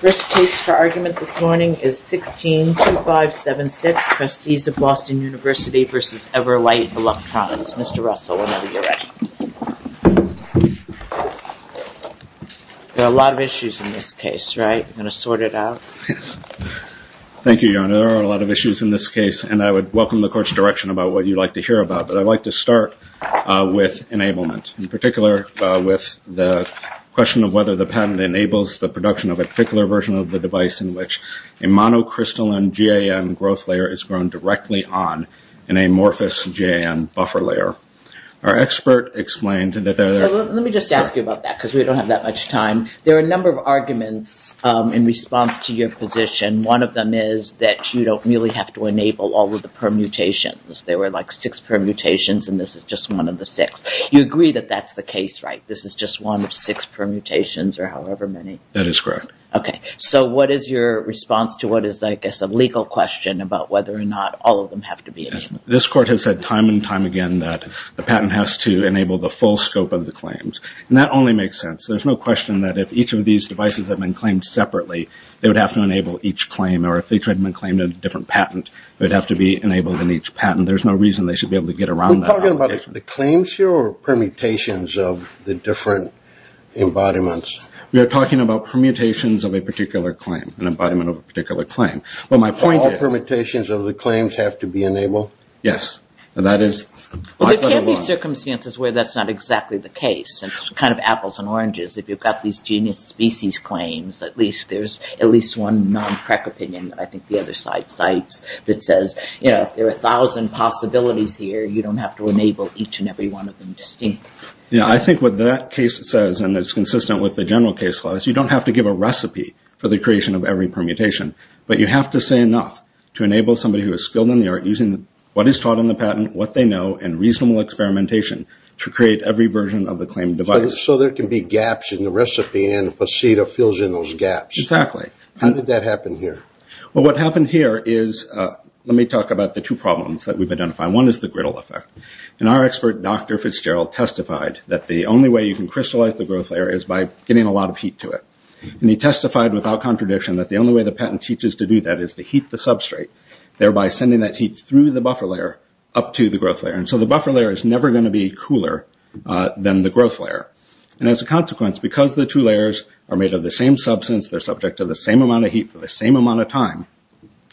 There are a lot of issues in this case and I would welcome the court's direction about what you would like to hear about but I would like to start with enablement in particular with the question of whether the patent enables the production of a particular version of the device in which a monocrystalline GAN growth layer is grown directly on an amorphous GAN buffer layer. Our expert explained that there are... Let me just ask you about that because we don't have that much time. There are a number of arguments in response to your position. One of them is that you don't really have to enable all of the permutations. There were like six permutations and this is just one of the six. You agree that that's the case, right? This is just one of six permutations or however many? That is correct. Okay. So what is your response to what is I guess a legal question about whether or not all of them have to be enabled? This court has said time and time again that the patent has to enable the full scope of the claims and that only makes sense. There's no question that if each of these devices have been claimed separately, they would have to enable each claim or if each had been claimed in a different patent, it would have to be enabled in each patent. There's no reason they should be able to get around that obligation. Are you talking about the claims here or permutations of the different embodiments? We are talking about permutations of a particular claim, an embodiment of a particular claim. But my point is... All permutations of the claims have to be enabled? Yes. Well, there can be circumstances where that's not exactly the case. It's kind of apples and oranges. If you've got these genius species claims, at least there's at least one non-crack opinion that I think the other side cites that says, you know, if there are a thousand possibilities here, you don't have to enable each and every one of them distinctly. I think what that case says, and it's consistent with the general case law, is you don't have to give a recipe for the creation of every permutation, but you have to say enough to enable somebody who is skilled in the art using what is taught in the patent, what they know and reasonable experimentation to create every version of the claimed device. So there can be gaps in the recipe and the faceta fills in those gaps. Exactly. How did that happen here? What happened here is... Let me talk about the two problems that we've identified. One is the griddle effect. Our expert, Dr. Fitzgerald, testified that the only way you can crystallize the growth layer is by getting a lot of heat to it. He testified without contradiction that the only way the patent teaches to do that is to heat the substrate, thereby sending that heat through the buffer layer up to the growth layer. So the buffer layer is never going to be cooler than the growth layer. As a consequence, because the two layers are made of the same substance, they're subject to the same amount of heat for the same amount of time,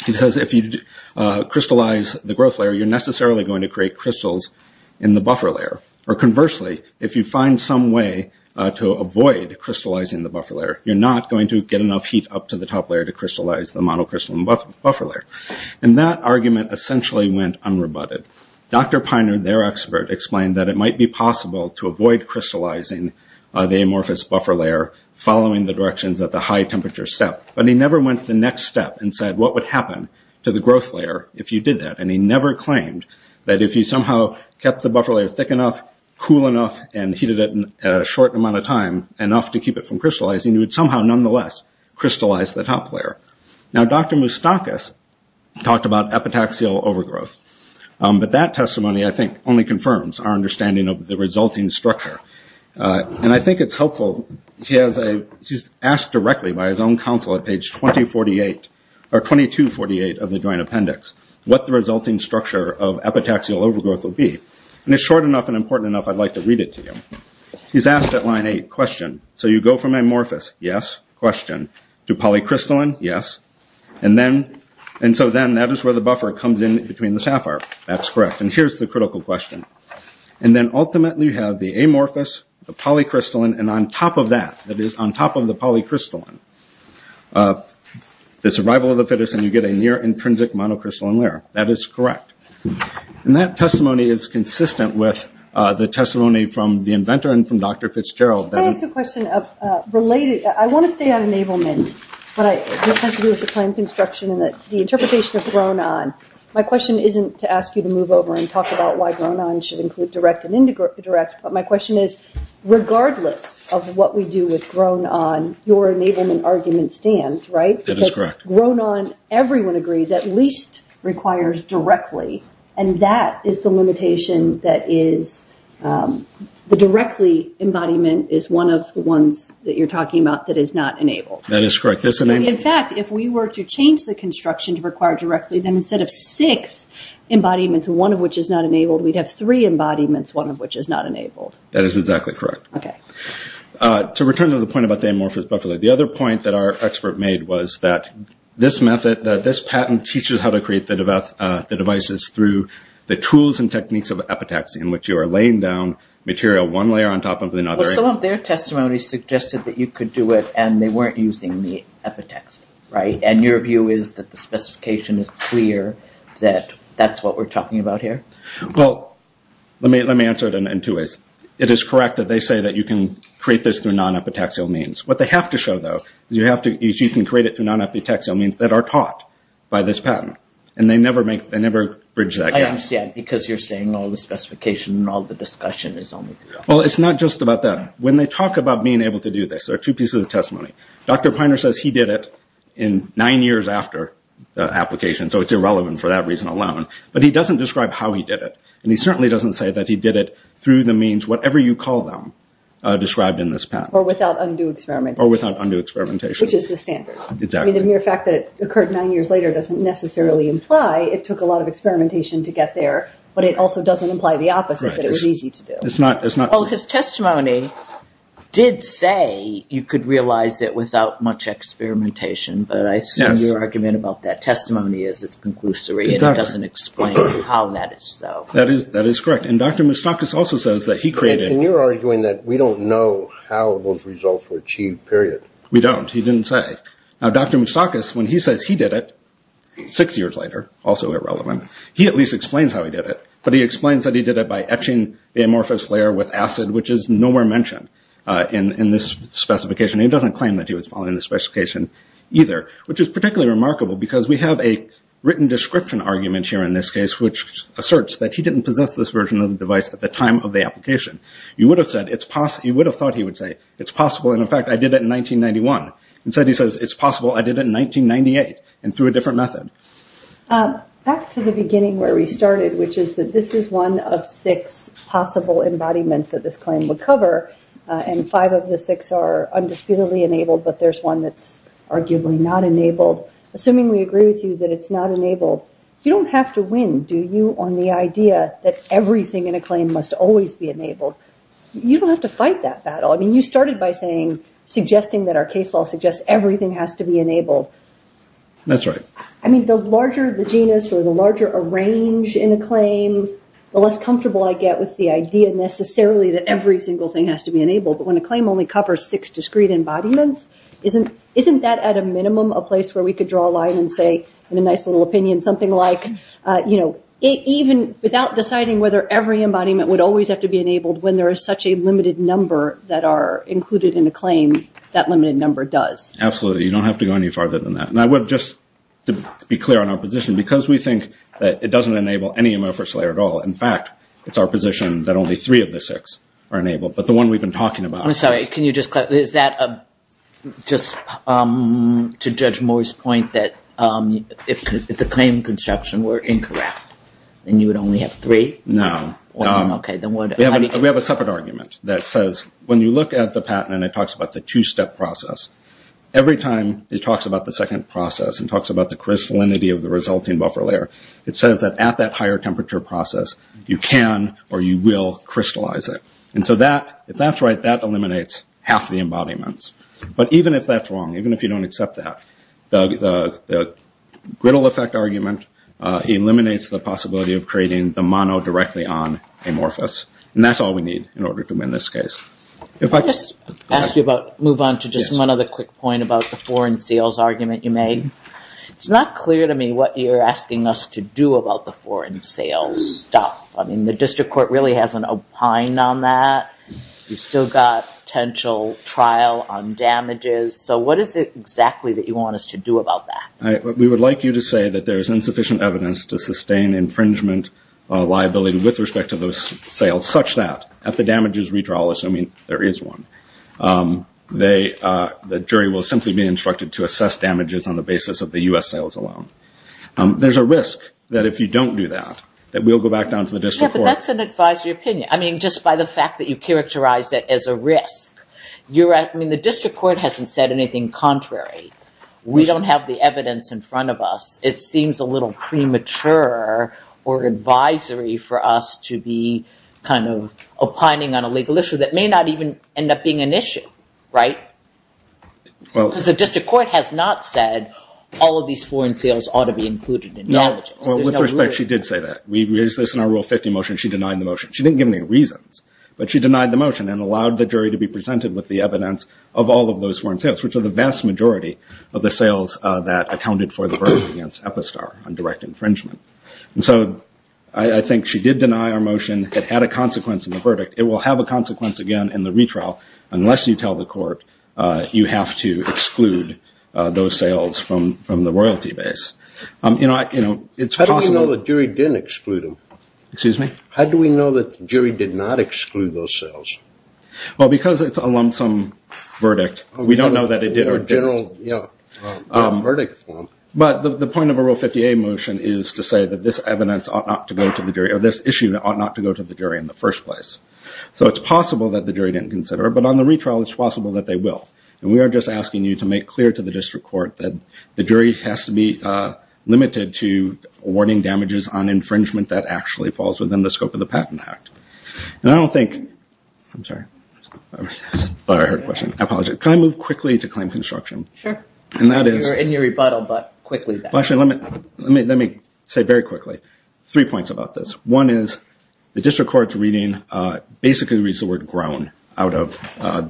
he says if you crystallize the growth layer, you're necessarily going to create crystals in the buffer layer. Or conversely, if you find some way to avoid crystallizing the buffer layer, you're not going to get enough heat up to the top layer to crystallize the monocrystalline buffer layer. And that argument essentially went unrebutted. Dr. Piner, their expert, explained that it might be possible to avoid crystallizing the amorphous buffer layer following the directions that the high temperature set. But he never went to the next step and said what would happen to the growth layer if you did that. And he never claimed that if you somehow kept the buffer layer thick enough, cool enough, and heated it a short amount of time enough to keep it from crystallizing, you would somehow nonetheless crystallize the top layer. Now Dr. Moustakis talked about epitaxial overgrowth. But that testimony, I think, only confirms our understanding of the resulting structure. And I think it's helpful. He's asked directly by his own counsel at page 2248 of the joint appendix what the resulting structure of epitaxial overgrowth will be. And it's short enough and important enough I'd like to read it to you. He's asked at line 8, question, so you go from amorphous, yes, question, to polycrystalline, yes. And so then that is where the buffer comes in between the sapphire. That's correct. And here's the critical question. And then ultimately you have the amorphous, the polycrystalline, and on top of that, that is on top of the polycrystalline, the survival of the fittest and you get a near-intrinsic monocrystalline layer. That is correct. And that testimony is consistent with the testimony from the inventor and from Dr. Fitzgerald. Can I ask you a question? I want to stay on enablement, but this has to do with the time construction and that the interpretation has grown on. My question isn't to ask you to talk about why grown-on should include direct and indirect, but my question is, regardless of what we do with grown-on, your enablement argument stands, right? That is correct. Because grown-on, everyone agrees, at least requires directly. And that is the limitation that is the directly embodiment is one of the ones that you're talking about that is not enabled. That is correct. That's enabled. In fact, if we were to change the construction to require directly, then instead of six embodiments, one of which is not enabled, we'd have three embodiments, one of which is not enabled. That is exactly correct. To return to the point about the amorphous buffer layer, the other point that our expert made was that this method, that this patent teaches how to create the devices through the tools and techniques of epitaxy in which you are laying down material one layer on top of another. Well, some of their testimonies suggested that you could do it and they weren't using the epitaxy, right? And your view is that the specification is clear that that's what we're talking about here? Well, let me answer it in two ways. It is correct that they say that you can create this through non-epitaxial means. What they have to show, though, is you can create it through non-epitaxial means that are taught by this patent. And they never bridge that gap. I understand, because you're saying all the specification and all the discussion is only through the patent. Well, it's not just about that. When they talk about being able to do this, there are two pieces of testimony. Dr. Piner says he did it in nine years after the application, so it's irrelevant for that reason alone. But he doesn't describe how he did it. And he certainly doesn't say that he did it through the means, whatever you call them, described in this patent. Or without undue experimentation. Or without undue experimentation. Which is the standard. Exactly. I mean, the mere fact that it occurred nine years later doesn't necessarily imply it took a lot of experimentation to get there, but it also doesn't imply the opposite, that it was easy to do. His testimony did say you could realize it without much experimentation, but I assume your argument about that testimony is it's conclusory and it doesn't explain how that is, though. That is correct. And Dr. Moustakis also says that he created... And you're arguing that we don't know how those results were achieved, period. We don't. He didn't say. Now, Dr. Moustakis, when he says he did it six years later, also irrelevant, he at least explains how he did it. But he explains that he did it by etching the amorphous layer with acid, which is nowhere mentioned in this specification. He doesn't claim that he was following the specification either. Which is particularly remarkable, because we have a written description argument here in this case, which asserts that he didn't possess this version of the device at the time of the application. You would have thought he would say, it's possible, and in fact, I did it in 1991. Instead he says, it's possible I did it in 1998, and through a different method. Back to the beginning where we started, which is that this is one of six possible embodiments that this claim would cover, and five of the six are undisputedly enabled, but there's one that's arguably not enabled. Assuming we agree with you that it's not enabled, you don't have to win, do you, on the idea that everything in a claim must always be enabled? You don't have to fight that battle. I mean, you started by saying, suggesting that our case law suggests everything has to be enabled. That's right. I mean, the larger the genus, or the larger a range in a claim, the less comfortable I get with the idea necessarily that every single thing has to be enabled, but when a claim only covers six discrete embodiments, isn't that at a minimum a place where we could draw a line and say, in a nice little opinion, something like, you know, even without deciding whether every embodiment would always have to be enabled, when there is such a limited number that are included in a claim, that limited number does. Absolutely. You don't have to go any farther than that. Now, just to be clear on our position, because we think that it doesn't enable any amorphous layer at all, in fact, it's our position that only three of the six are enabled, but the one we've been talking about is. I'm sorry, can you just clarify, is that just to Judge Moore's point that if the claim construction were incorrect, then you would only have three? No. Okay, then what? We have a separate argument that says, when you look at the patent, and it talks about the two-step process, every time it talks about the second process and talks about the crystallinity of the resulting buffer layer, it says that at that higher temperature process, you can or you will crystallize it. And so that, if that's right, that eliminates half the embodiments. But even if that's wrong, even if you don't accept that, the griddle effect argument eliminates the possibility of creating the mono directly on amorphous, and that's all we need in order to win this case. If I could just ask you about, move on to just one other quick point about the foreign sales argument you made. It's not clear to me what you're asking us to do about the foreign sales stuff. I mean, the district court really hasn't opined on that. You've still got potential trial on damages, so what is it exactly that you want us to do about that? We would like you to say that there is insufficient evidence to sustain infringement liability with respect to those sales, such that at the damages redrawal, assuming there is one, the jury will simply be instructed to assess damages on the basis of the U.S. sales alone. There's a risk that if you don't do that, that we'll go back down to the district court. Yeah, but that's an advisory opinion. I mean, just by the fact that you characterize it as a risk, you're right. I mean, the district court hasn't said anything contrary. We don't have the evidence in front of us. It seems a little premature or advisory for us to be kind of opining on a legal issue that may not even end up being an issue, right? Because the district court has not said all of these foreign sales ought to be included in damages. Well, with respect, she did say that. We raised this in our Rule 50 motion. She denied the motion. She didn't give any reasons, but she denied the motion and allowed the jury to be presented with the evidence of all of those foreign sales, which are the vast majority of the sales that accounted for the verdict against Epistar on direct infringement. And so I think she did deny our motion. It had a consequence in the verdict. It will have a consequence again in the retrial, unless you tell the court you have to exclude those sales from the royalty base. You know, it's possible. How do we know the jury didn't exclude them? Excuse me? How do we know that the jury did not exclude those sales? Well, because it's a lump sum verdict, we don't know that it did or didn't, but the point of a Rule 50A motion is to say that this evidence ought not to go to the jury or this issue ought not to go to the jury in the first place. So it's possible that the jury didn't consider it, but on the retrial, it's possible that they will. And we are just asking you to make clear to the district court that the jury has to be limited to awarding damages on infringement that actually falls within the scope of the Patent Act. And I don't think, I'm sorry, I thought I heard a question. I apologize. Can I move quickly to claim construction? Sure. And that is... You're in your rebuttal, but quickly then. Let me say very quickly three points about this. One is the district court's reading basically reads the word grown out of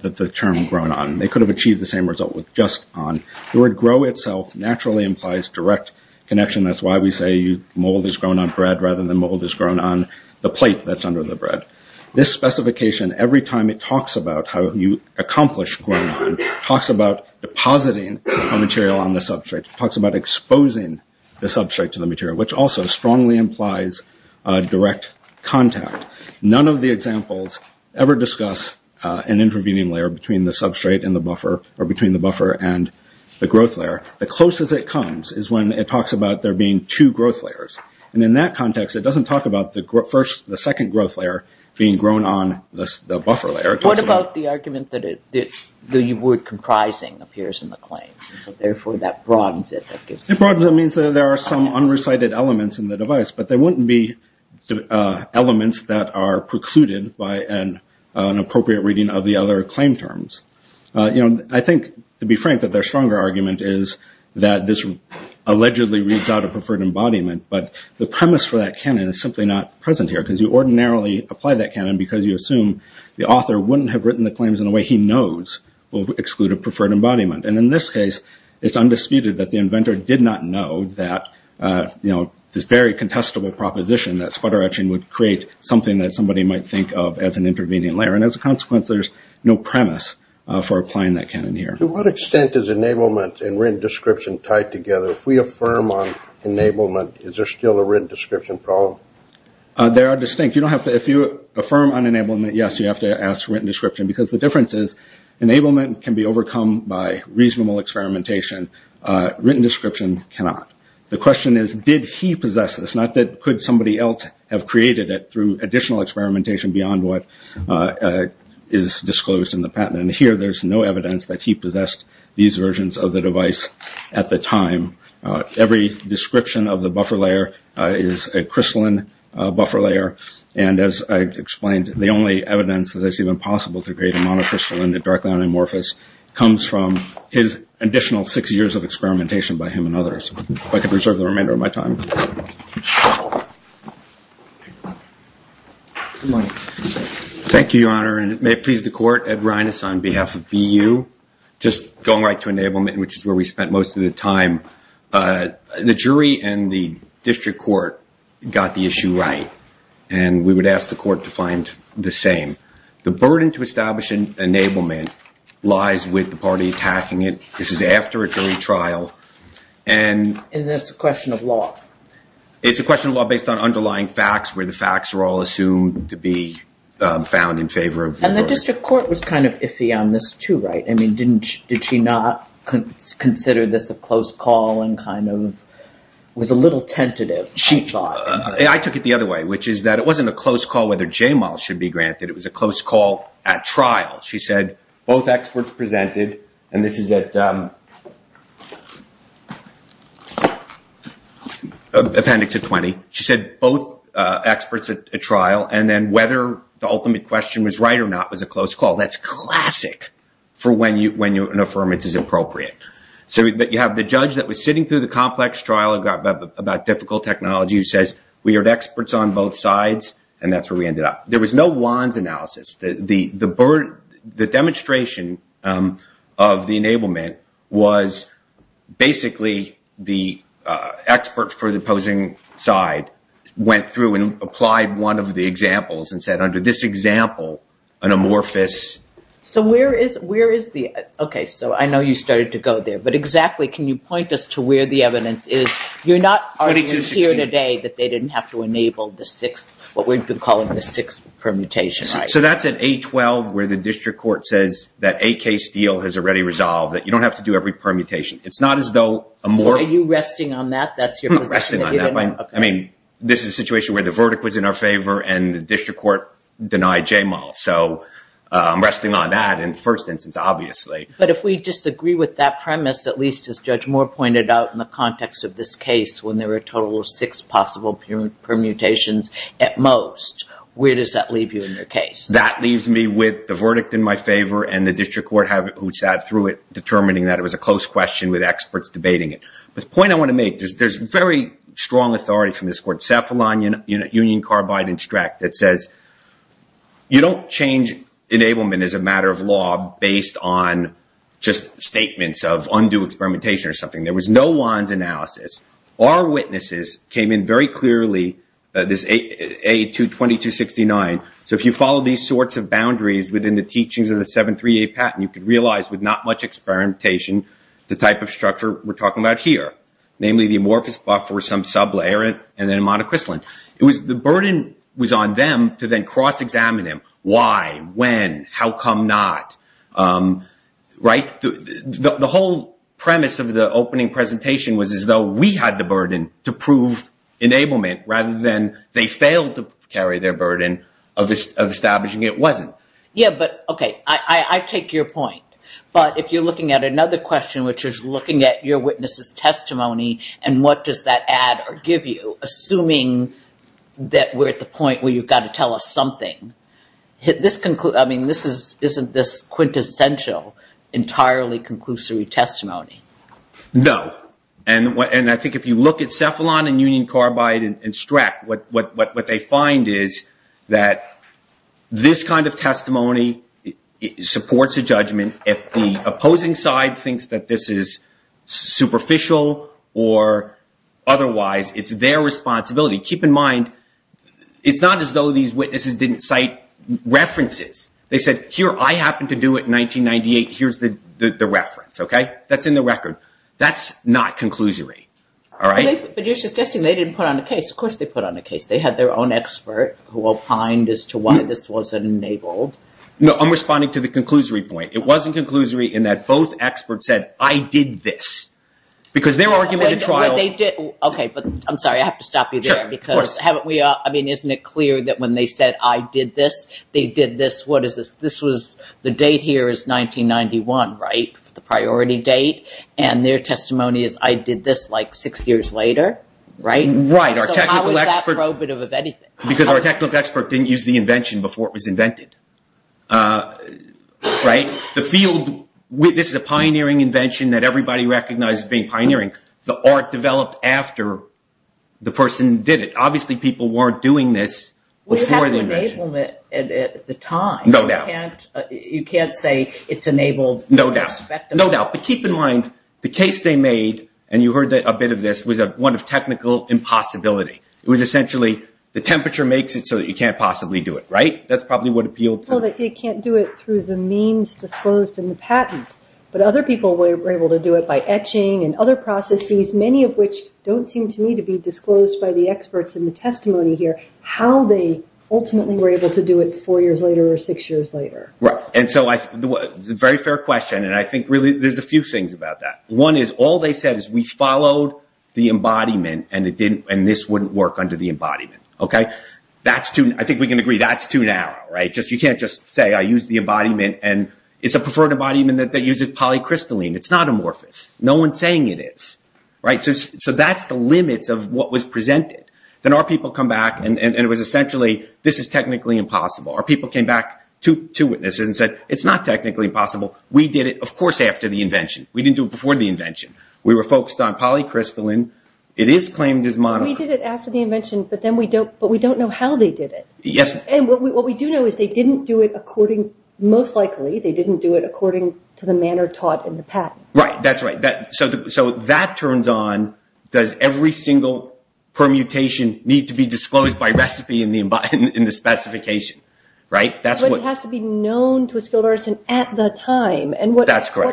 the term grown on. They could have achieved the same result with just on. The word grow itself naturally implies direct connection. That's why we say mold is grown on bread rather than mold is grown on the plate that's under the bread. This specification, every time it talks about how you accomplish grown on, talks about depositing a material on the substrate. It talks about exposing the substrate to the material, which also strongly implies direct contact. None of the examples ever discuss an intervening layer between the substrate and the buffer or between the buffer and the growth layer. The closest it comes is when it talks about there being two growth layers. And in that context, it doesn't talk about the first, the second growth layer being grown on the buffer layer. What about the argument that the word comprising appears in the claim? Therefore, that broadens it. It broadens it means that there are some unrecited elements in the device, but there wouldn't be elements that are precluded by an appropriate reading of the other claim terms. I think, to be frank, that their stronger argument is that this allegedly reads out a preferred embodiment, but the premise for that canon is simply not present here because you ordinarily apply that canon because you assume the author wouldn't have written the claims in a way he knows will exclude a preferred embodiment. And in this case, it's undisputed that the inventor did not know that, you know, this very contestable proposition that sputter etching would create something that somebody might think of as an intervening layer. And as a consequence, there's no premise for applying that canon here. To what extent is enablement and written description tied together? If we affirm on enablement, is there still a written description problem? They are distinct. If you affirm on enablement, yes, you have to ask for written description because the difference is enablement can be overcome by reasonable experimentation. Written description cannot. The question is, did he possess this? Not that could somebody else have created it through additional experimentation beyond what is disclosed in the patent. And here, there's no evidence that he possessed these versions of the device at the time. Every description of the buffer layer is a crystalline buffer layer. And as I explained, the only evidence that it's even possible to create a monocrystalline directly on amorphous comes from his additional six years of experimentation by him and others. If I could reserve the remainder of my time. Thank you, Your Honor. And may it please the court, Ed Reines on behalf of BU. Just going right to enablement, which is where we spent most of the time. The jury and the district court got the issue right. And we would ask the court to find the same. The burden to establish an enablement lies with the party attacking it. This is after a jury trial. And that's a question of law. It's a question of law based on underlying facts where the facts are all assumed to be found in favor of the court. And the district court was kind of iffy on this too, right? I mean, did she not consider this a close call and kind of was a little tentative, she thought? I took it the other way, which is that it wasn't a close call whether J-Mal should be appendix of 20. She said both experts at a trial. And then whether the ultimate question was right or not was a close call. That's classic for when an affirmance is appropriate. So you have the judge that was sitting through the complex trial about difficult technology who says, we heard experts on both sides. And that's where we ended up. There was no Wands analysis. The demonstration of the enablement was basically the expert for the opposing side went through and applied one of the examples and said, under this example, an amorphous. So where is the, okay, so I know you started to go there. But exactly, can you point us to where the evidence is? You're not arguing here today that they didn't have to enable the sixth, what we've been calling the sixth permutation, right? So that's at 8-12 where the district court says that a case deal has already resolved, that you don't have to do every permutation. It's not as though a more- So are you resting on that? That's your position? I'm not resting on that. I mean, this is a situation where the verdict was in our favor and the district court denied J-Mal. So I'm resting on that in the first instance, obviously. But if we disagree with that premise, at least as Judge Moore pointed out in the context of this case, when there were a total of six possible permutations at most, where does that leave you in your case? That leaves me with the verdict in my favor and the district court who sat through it determining that it was a close question with experts debating it. But the point I want to make is there's very strong authority from this court, Cephalon, Union, Carbide, and Streck, that says you don't change enablement as a matter of law based on just statements of undue experimentation or something. There was no one's analysis. Our witnesses came in very clearly, this A22269. So if you follow these sorts of boundaries within the teachings of the 738 patent, you could realize with not much experimentation, the type of structure we're talking about here, namely the amorphous buffer, some sublayer, and then monocrystalline. The burden was on them to then cross-examine him. Why? When? How come not? The whole premise of the opening presentation was as though we had the burden to prove enablement rather than they failed to carry their burden of establishing it wasn't. Yeah, but okay, I take your point. But if you're looking at another question, which we're at the point where you've got to tell us something, this isn't this quintessential entirely conclusory testimony. No, and I think if you look at Cephalon and Union, Carbide, and Streck, what they find is that this kind of testimony supports a judgment. If the opposing side thinks that this is superficial or otherwise, it's their responsibility. Keep in mind, it's not as though these witnesses didn't cite references. They said, here, I happened to do it in 1998. Here's the reference. That's in the record. That's not conclusory. But you're suggesting they didn't put on a case. Of course, they put on a case. They had their own expert who opined as to why this wasn't enabled. No, I'm responding to the conclusory point. It wasn't conclusory in that both experts said, I did this. Because their argument at the time is, I did this six years later. So how is that probative of anything? Because our technical expert didn't use the invention before it was invented. This is a pioneering invention that everybody recognizes as being pioneering. The art developed after the person did it. Obviously, people weren't doing this before the invention. We had to enable it at the time. No doubt. You can't say it's enabled irrespective of... No doubt. But keep in mind, the case they made, and you heard a bit of this, was one of technical impossibility. It was essentially, the temperature makes it so that you can't possibly do it, right? That's probably what appealed to... Well, they can't do it through the means disposed in the patent. But other people were able to do it by etching and other processes, many of which don't seem to me to be disclosed by the experts in the testimony here, how they ultimately were able to do it four years later or six years later. Right. And so, very fair question. And I think really, there's a few things about that. One is, all they said is, we followed the embodiment, and this wouldn't work under the embodiment. Okay? I think we can agree, that's too narrow, right? You can't just say, I use the embodiment, and it's a preferred embodiment that uses polycrystalline. It's not amorphous. No one's saying it is. Right? So that's the limits of what was presented. Then our people come back, and it was essentially, this is technically impossible. Our people came back to witnesses and said, it's not technically impossible. We did it, of course, after the invention. We didn't do it before the invention. We were focused on polycrystalline. It is claimed as monochrome. We did it after the invention, but we don't know how they did it. And what we do know is, they didn't do it according, most likely, they didn't do it according to the manner taught in the patent. Right. That's right. So that turns on, does every single permutation need to be disclosed by recipe in the specification? Right? But it has to be known to a skilled artisan at the time. And what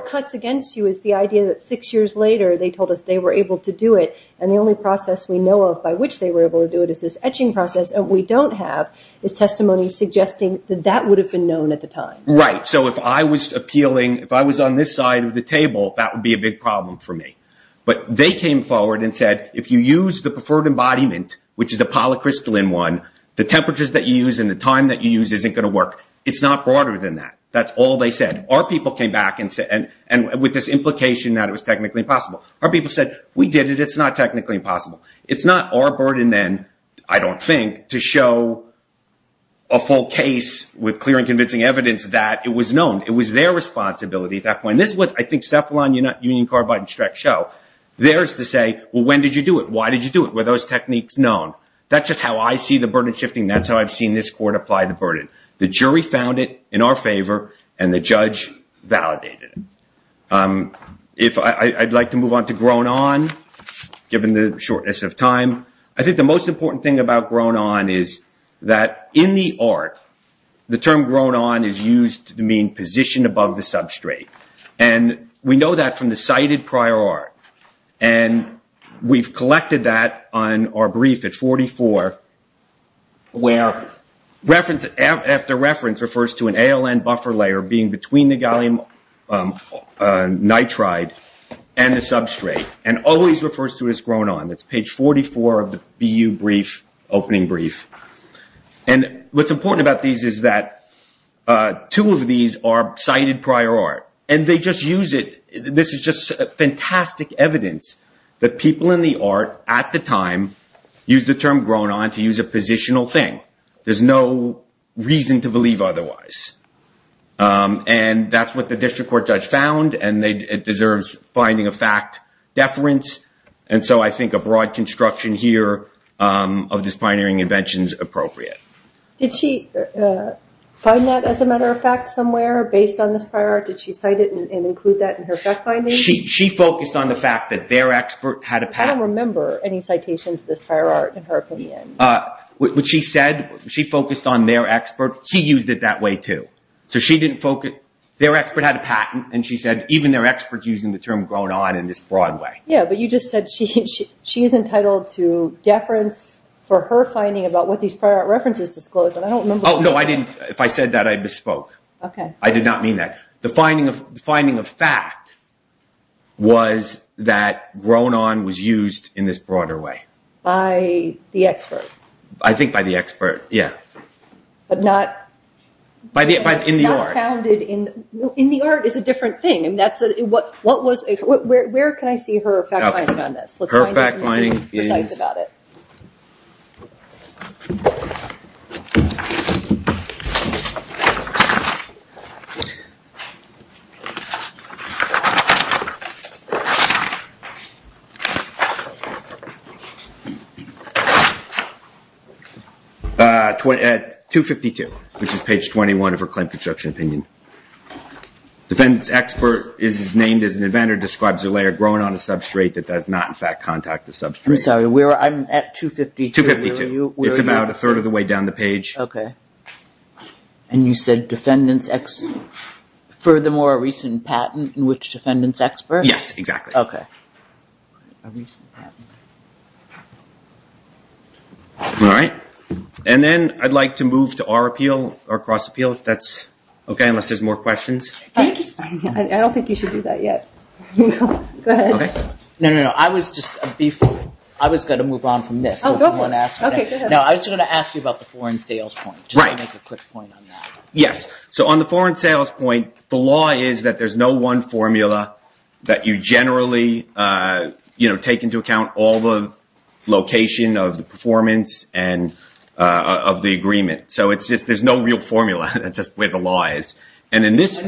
cuts against you is the idea that six years later, they told us they were able to do it, and the only process we know of by which they were able to do it is this etching process. What we don't have is testimony suggesting that that would have been known at the time. Right. So if I was appealing, if I was on this side of the table, that would be a big problem for me. But they came forward and said, if you use the preferred embodiment, which is a polycrystalline one, the temperatures that you use and the time that you use isn't going to work. It's not broader than that. That's all they said. Our people came back and said, and with this implication that it was technically impossible. Our people said, we did it. It's not technically impossible. It's not our burden then, I don't think, to show a full case with clear and convincing evidence that it was known. It was their responsibility at that point. This is what I think Cephalon, Union, Carbide, and Streck show. Theirs to say, well, when did you do it? Why did you do it? Were those techniques known? That's just how I see the burden shifting. That's how I've seen this court apply the burden. The jury found it in our favor, and the judge validated it. I'd like to move on to Grown On, given the shortness of time. I think the most important thing about Grown On is that in the art, the term Grown On is used to mean position above the substrate. We know that from the cited prior art. We've collected that on our brief at 44, where reference after reference refers to an ALN buffer layer being between the gallium nitride and the substrate, and always refers to it as Grown On. It's page 44 of the BU opening brief. What's important about these is that two of these are cited prior art. This is just to use a positional thing. There's no reason to believe otherwise. That's what the district court judge found, and it deserves finding of fact deference. I think a broad construction here of this pioneering invention is appropriate. Did she find that as a matter of fact somewhere based on this prior art? Did she cite it and include that in her fact finding? She focused on the fact that their expert had a patent. Any citations of this prior art in her opinion? What she said, she focused on their expert. She used it that way too. Their expert had a patent, and she said even their experts using the term Grown On in this broad way. Yeah, but you just said she's entitled to deference for her finding about what these prior art references disclosed, and I don't remember- Oh, no, I didn't. If I said that, I misspoke. I did not mean that. The finding of fact was that Grown On was used in this broader way. By the expert? I think by the expert, yeah. But not- In the art. Not founded in- In the art is a different thing. Where can I see her fact finding on this? Her fact finding is 252, which is page 21 of her claim construction opinion. Dependent's expert is named as an inventor, describes a layer grown on a substrate that does not in fact contact the substrate. I'm sorry. I'm at 252. 252. It's about a third of the way down the page. Okay. And you said defendant's expert, furthermore a recent patent in which defendant's expert? Yes, exactly. Okay. All right. And then I'd like to move to our appeal, our cross appeal if that's okay, unless there's more questions. I don't think you should do that yet. Go ahead. Okay. No, no, no. I was going to move on from this. Oh, go for it. Okay, go ahead. No, I was going to ask you about the foreign sales point. Right. Just to make a quick point on that. Yes. So on the foreign sales point, the law is that there's no one formula that you generally take into account all the location of the performance and of the agreement. So it's just there's no real formula. That's just the way the law is. And in this-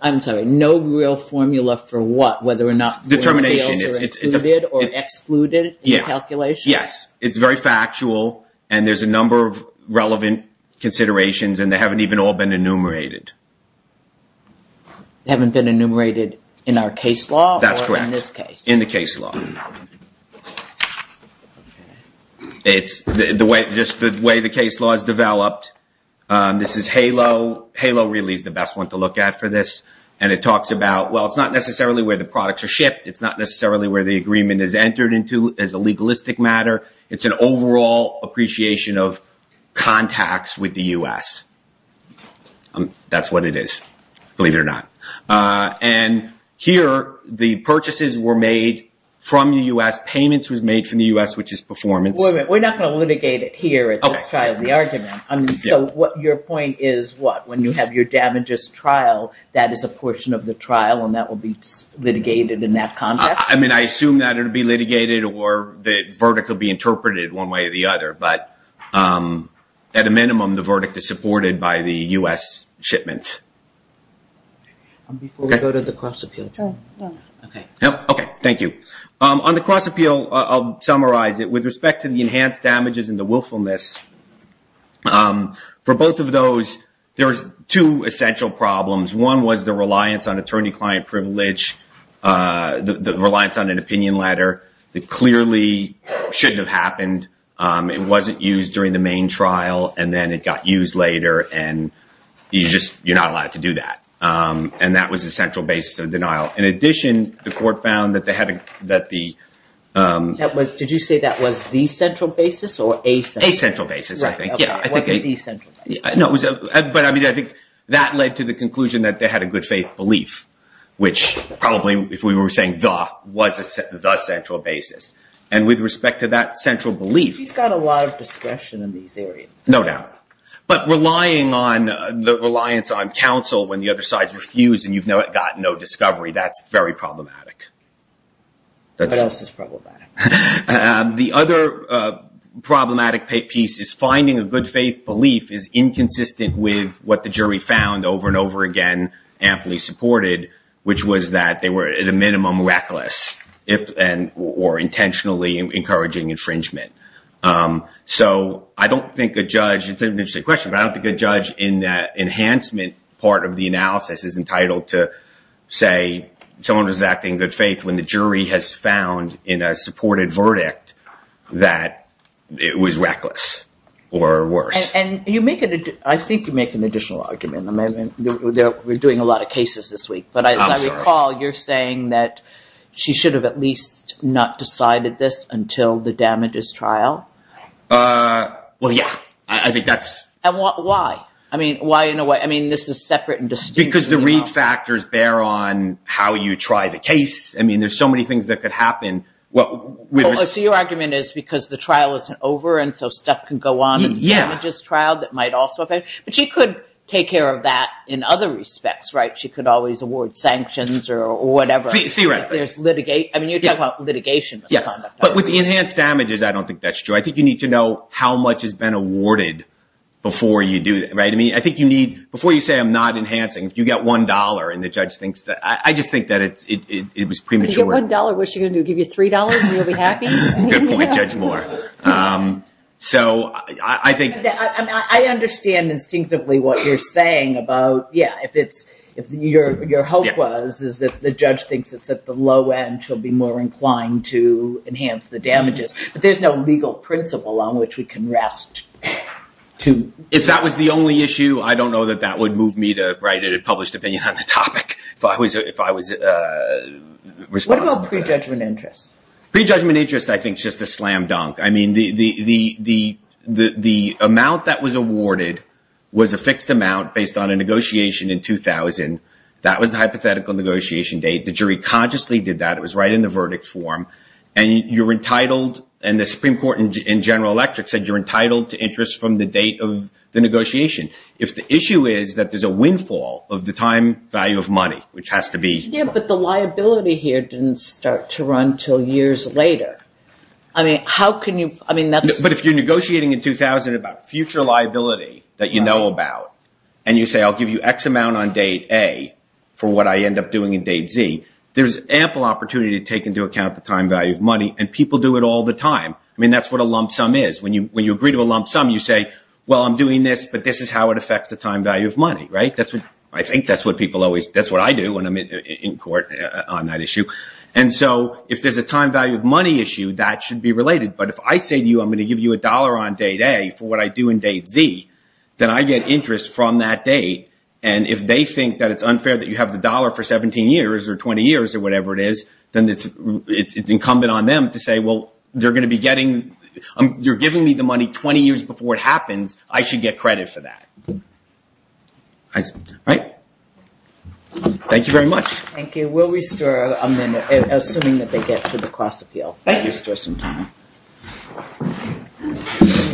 I'm sorry. No real formula for what? Whether or not- Determination. The sales are included or excluded in the calculation? Yes. It's very factual and there's a number of relevant considerations and they haven't even all been enumerated. They haven't been enumerated in our case law or in this case? That's correct. In the case law. It's just the way the case law is developed. This is HALO. HALO really is the best one to and it talks about, well, it's not necessarily where the products are shipped. It's not necessarily where the agreement is entered into as a legalistic matter. It's an overall appreciation of contacts with the U.S. That's what it is, believe it or not. And here, the purchases were made from the U.S. Payments was made from the U.S., which is performance. We're not going to litigate it here at this trial, the argument. So your point is what? You have your damages trial. That is a portion of the trial and that will be litigated in that context? I mean, I assume that it will be litigated or the verdict will be interpreted one way or the other. But at a minimum, the verdict is supported by the U.S. Shipments. Before we go to the cross-appeal. Okay. Thank you. On the cross-appeal, I'll summarize it. With respect to the enhanced damages and the willfulness, for both of those, there's two essential problems. One was the reliance on attorney-client privilege, the reliance on an opinion letter that clearly shouldn't have happened. It wasn't used during the main trial and then it got used later. And you're not allowed to do that. And that was the central basis of denial. In addition, the court found that they had that the... A central basis, I think. Okay. It wasn't the central basis. No. But I mean, I think that led to the conclusion that they had a good faith belief, which probably if we were saying the, was the central basis. And with respect to that central belief... He's got a lot of discretion in these areas. No doubt. But relying on the reliance on counsel when the other side's refused and you've got no discovery, that's very problematic. What else is problematic? The other problematic piece is finding a good faith belief is inconsistent with what the jury found over and over again, amply supported, which was that they were at a minimum reckless or intentionally encouraging infringement. So I don't think a judge... It's an interesting question, but I don't think a judge in that enhancement part of the analysis is entitled to say someone was acting in good faith when the jury has found in a supported verdict that it was reckless or worse. And you make it... I think you make an additional argument. We're doing a lot of cases this week, but as I recall, you're saying that she should have at least not decided this until the damages trial? Well, yeah. I think that's... And why? I mean, why in a way? I mean, this is separate and distinct. Because the read factors bear on how you try the case. I mean, there's so many things that could happen. So your argument is because the trial isn't over and so stuff can go on in the damages trial that might also affect... But she could take care of that in other respects, right? She could always award sanctions or whatever. Theoretically. There's litigate... I mean, you're talking about litigation. But with the enhanced damages, I don't think that's true. I think you need to know how much has been awarded before you do that, right? I mean, I think you need... You get $1 and the judge thinks that... I just think that it was premature. If you get $1, what's she going to do? Give you $3 and you'll be happy? Good point, Judge Moore. So I think... I understand instinctively what you're saying about, yeah, if it's... If your hope was is if the judge thinks it's at the low end, she'll be more inclined to enhance the damages. But there's no legal principle on which we can rest to... What about prejudgment interest? Prejudgment interest, I think, is just a slam dunk. I mean, the amount that was awarded was a fixed amount based on a negotiation in 2000. That was the hypothetical negotiation date. The jury consciously did that. It was right in the verdict form. And you're entitled... And the Supreme Court in General Electric said you're entitled to interest from the date of negotiation. If the issue is that there's a windfall of the time value of money, which has to be... Yeah, but the liability here didn't start to run till years later. I mean, how can you... I mean, that's... But if you're negotiating in 2000 about future liability that you know about and you say, I'll give you X amount on date A for what I end up doing in date Z, there's ample opportunity to take into account the time value of money and people do it all the time. I mean, that's what a lump sum is. When you agree to a lump sum, you say, well, I'm doing this, but this is how it affects the time value of money. I think that's what people always... That's what I do when I'm in court on that issue. And so if there's a time value of money issue, that should be related. But if I say to you, I'm going to give you a dollar on date A for what I do in date Z, then I get interest from that date. And if they think that it's unfair that you have the dollar for 17 years or 20 years or whatever it is, then it's incumbent on them to say, well, they're going to be getting... You're giving me money 20 years before it happens. I should get credit for that. All right. Thank you very much. Thank you. We'll restore a minute, assuming that they get to the cross appeal. Thank you. Restore some time.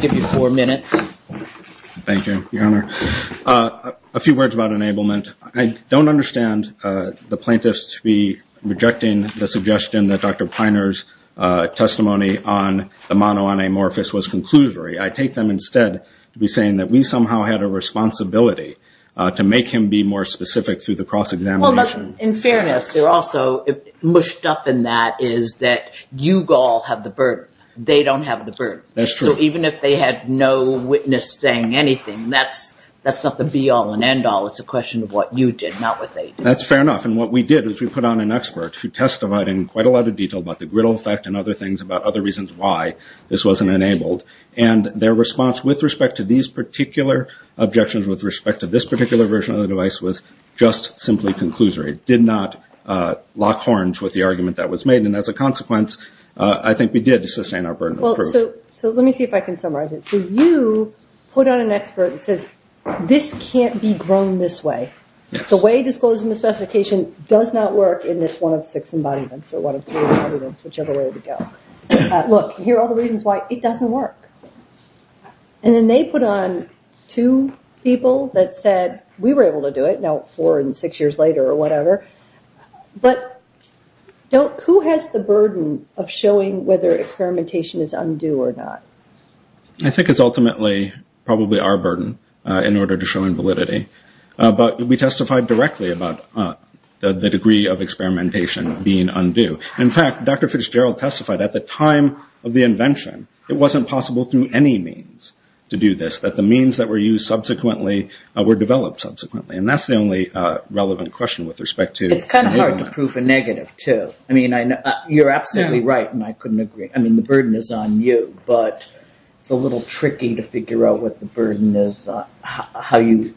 Give you four minutes. Thank you, Your Honor. A few words about enablement. I don't understand the plaintiffs to be rejecting the suggestion that Dr. Piner's testimony on the mono on amorphous was conclusory. I take them instead to be saying that we somehow had a responsibility to make him be more specific through the cross examination. In fairness, they're also mushed up in that is that you all have the burden. They don't have the burden. That's true. Even if they had no witness saying anything, that's not the be all and end all. It's a question of what you did, not what they did. That's fair enough. What we did is we put on an expert who testified in quite a lot of detail about the griddle effect and other things about other reasons why this wasn't enabled. Their response with respect to these particular objections with respect to this particular version of the device was just simply conclusory. It did not lock horns with the argument that was made. As a consequence, I think we did sustain our burden of proof. Let me see if I can summarize it. You put on an expert that says, this can't be grown this way. The way disclosing the specification does not work in this one of six embodiments or one of three embodiments, whichever way to go. Look, here are all the reasons why it doesn't work. Then they put on two people that said, we were able to do it, now four and six years later or whatever. Who has the burden of showing whether experimentation is undue or not? I think it's ultimately probably our burden in order to show invalidity, but we testified directly about the degree of experimentation being undue. In fact, Dr. Fitzgerald testified at the time of the invention, it wasn't possible through any means to do this, that the means that were used subsequently were developed subsequently. That's the only relevant question with respect to- It's hard to prove a negative too. You're absolutely right and I couldn't agree. The it's a little tricky to figure out what the burden is, how you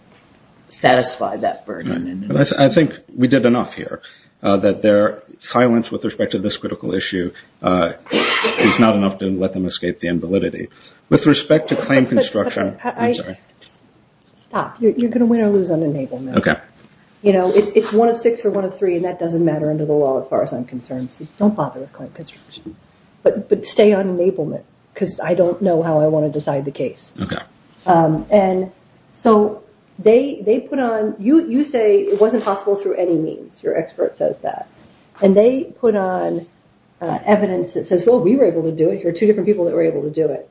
satisfy that burden. I think we did enough here that their silence with respect to this critical issue is not enough to let them escape the invalidity. With respect to claim construction- Stop, you're going to win or lose on enablement. It's one of six or one of three, and that doesn't matter under the law as far as I'm concerned. Don't bother with how I want to decide the case. You say it wasn't possible through any means, your expert says that, and they put on evidence that says, well, we were able to do it. Here are two different people that were able to do it.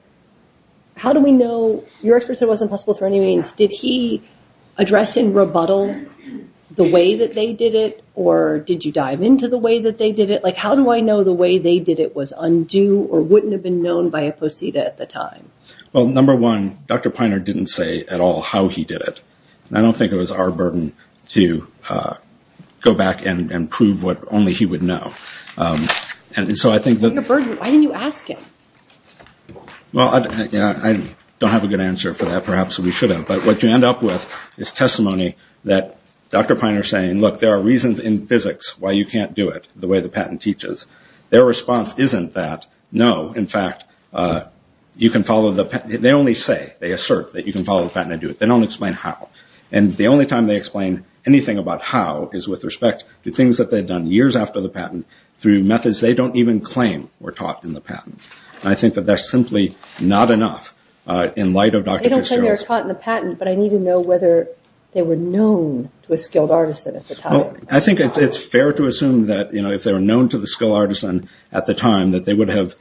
How do we know- Your expert said it wasn't possible through any means. Did he address in rebuttal the way that they did it, or did you dive into the way that they did it? How do I know the way they did it was undue or wouldn't have known by a posita at the time? Well, number one, Dr. Piner didn't say at all how he did it. I don't think it was our burden to go back and prove what only he would know. The burden, why didn't you ask him? Well, I don't have a good answer for that. Perhaps we should have, but what you end up with is testimony that Dr. Piner saying, look, there are reasons in physics why you can't do it the way the patent teaches. Their response isn't that. No, in fact, you can follow the patent. They only say, they assert that you can follow the patent and do it. They don't explain how, and the only time they explain anything about how is with respect to things that they've done years after the patent through methods they don't even claim were taught in the patent. I think that that's simply not enough in light of Dr. Fitzgerald's- They don't say they were taught in the patent, but I need to know whether they were known to a skilled artist at the time. I think it's fair to assume that if they were known to the skilled artisan at the time that they would have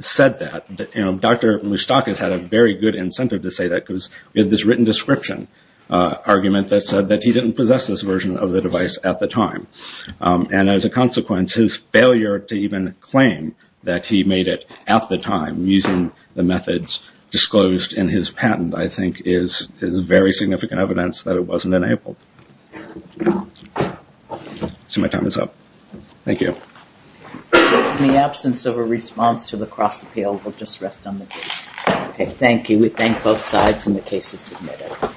said that. Dr. Moustakis had a very good incentive to say that because we had this written description argument that said that he didn't possess this version of the device at the time. As a consequence, his failure to even claim that he made it at the time using the methods disclosed in his patent, I think is very significant evidence that it wasn't enabled. My time is up. Thank you. In the absence of a response to the cross appeal, we'll just rest on the case. Thank you. We thank both sides and the case is submitted.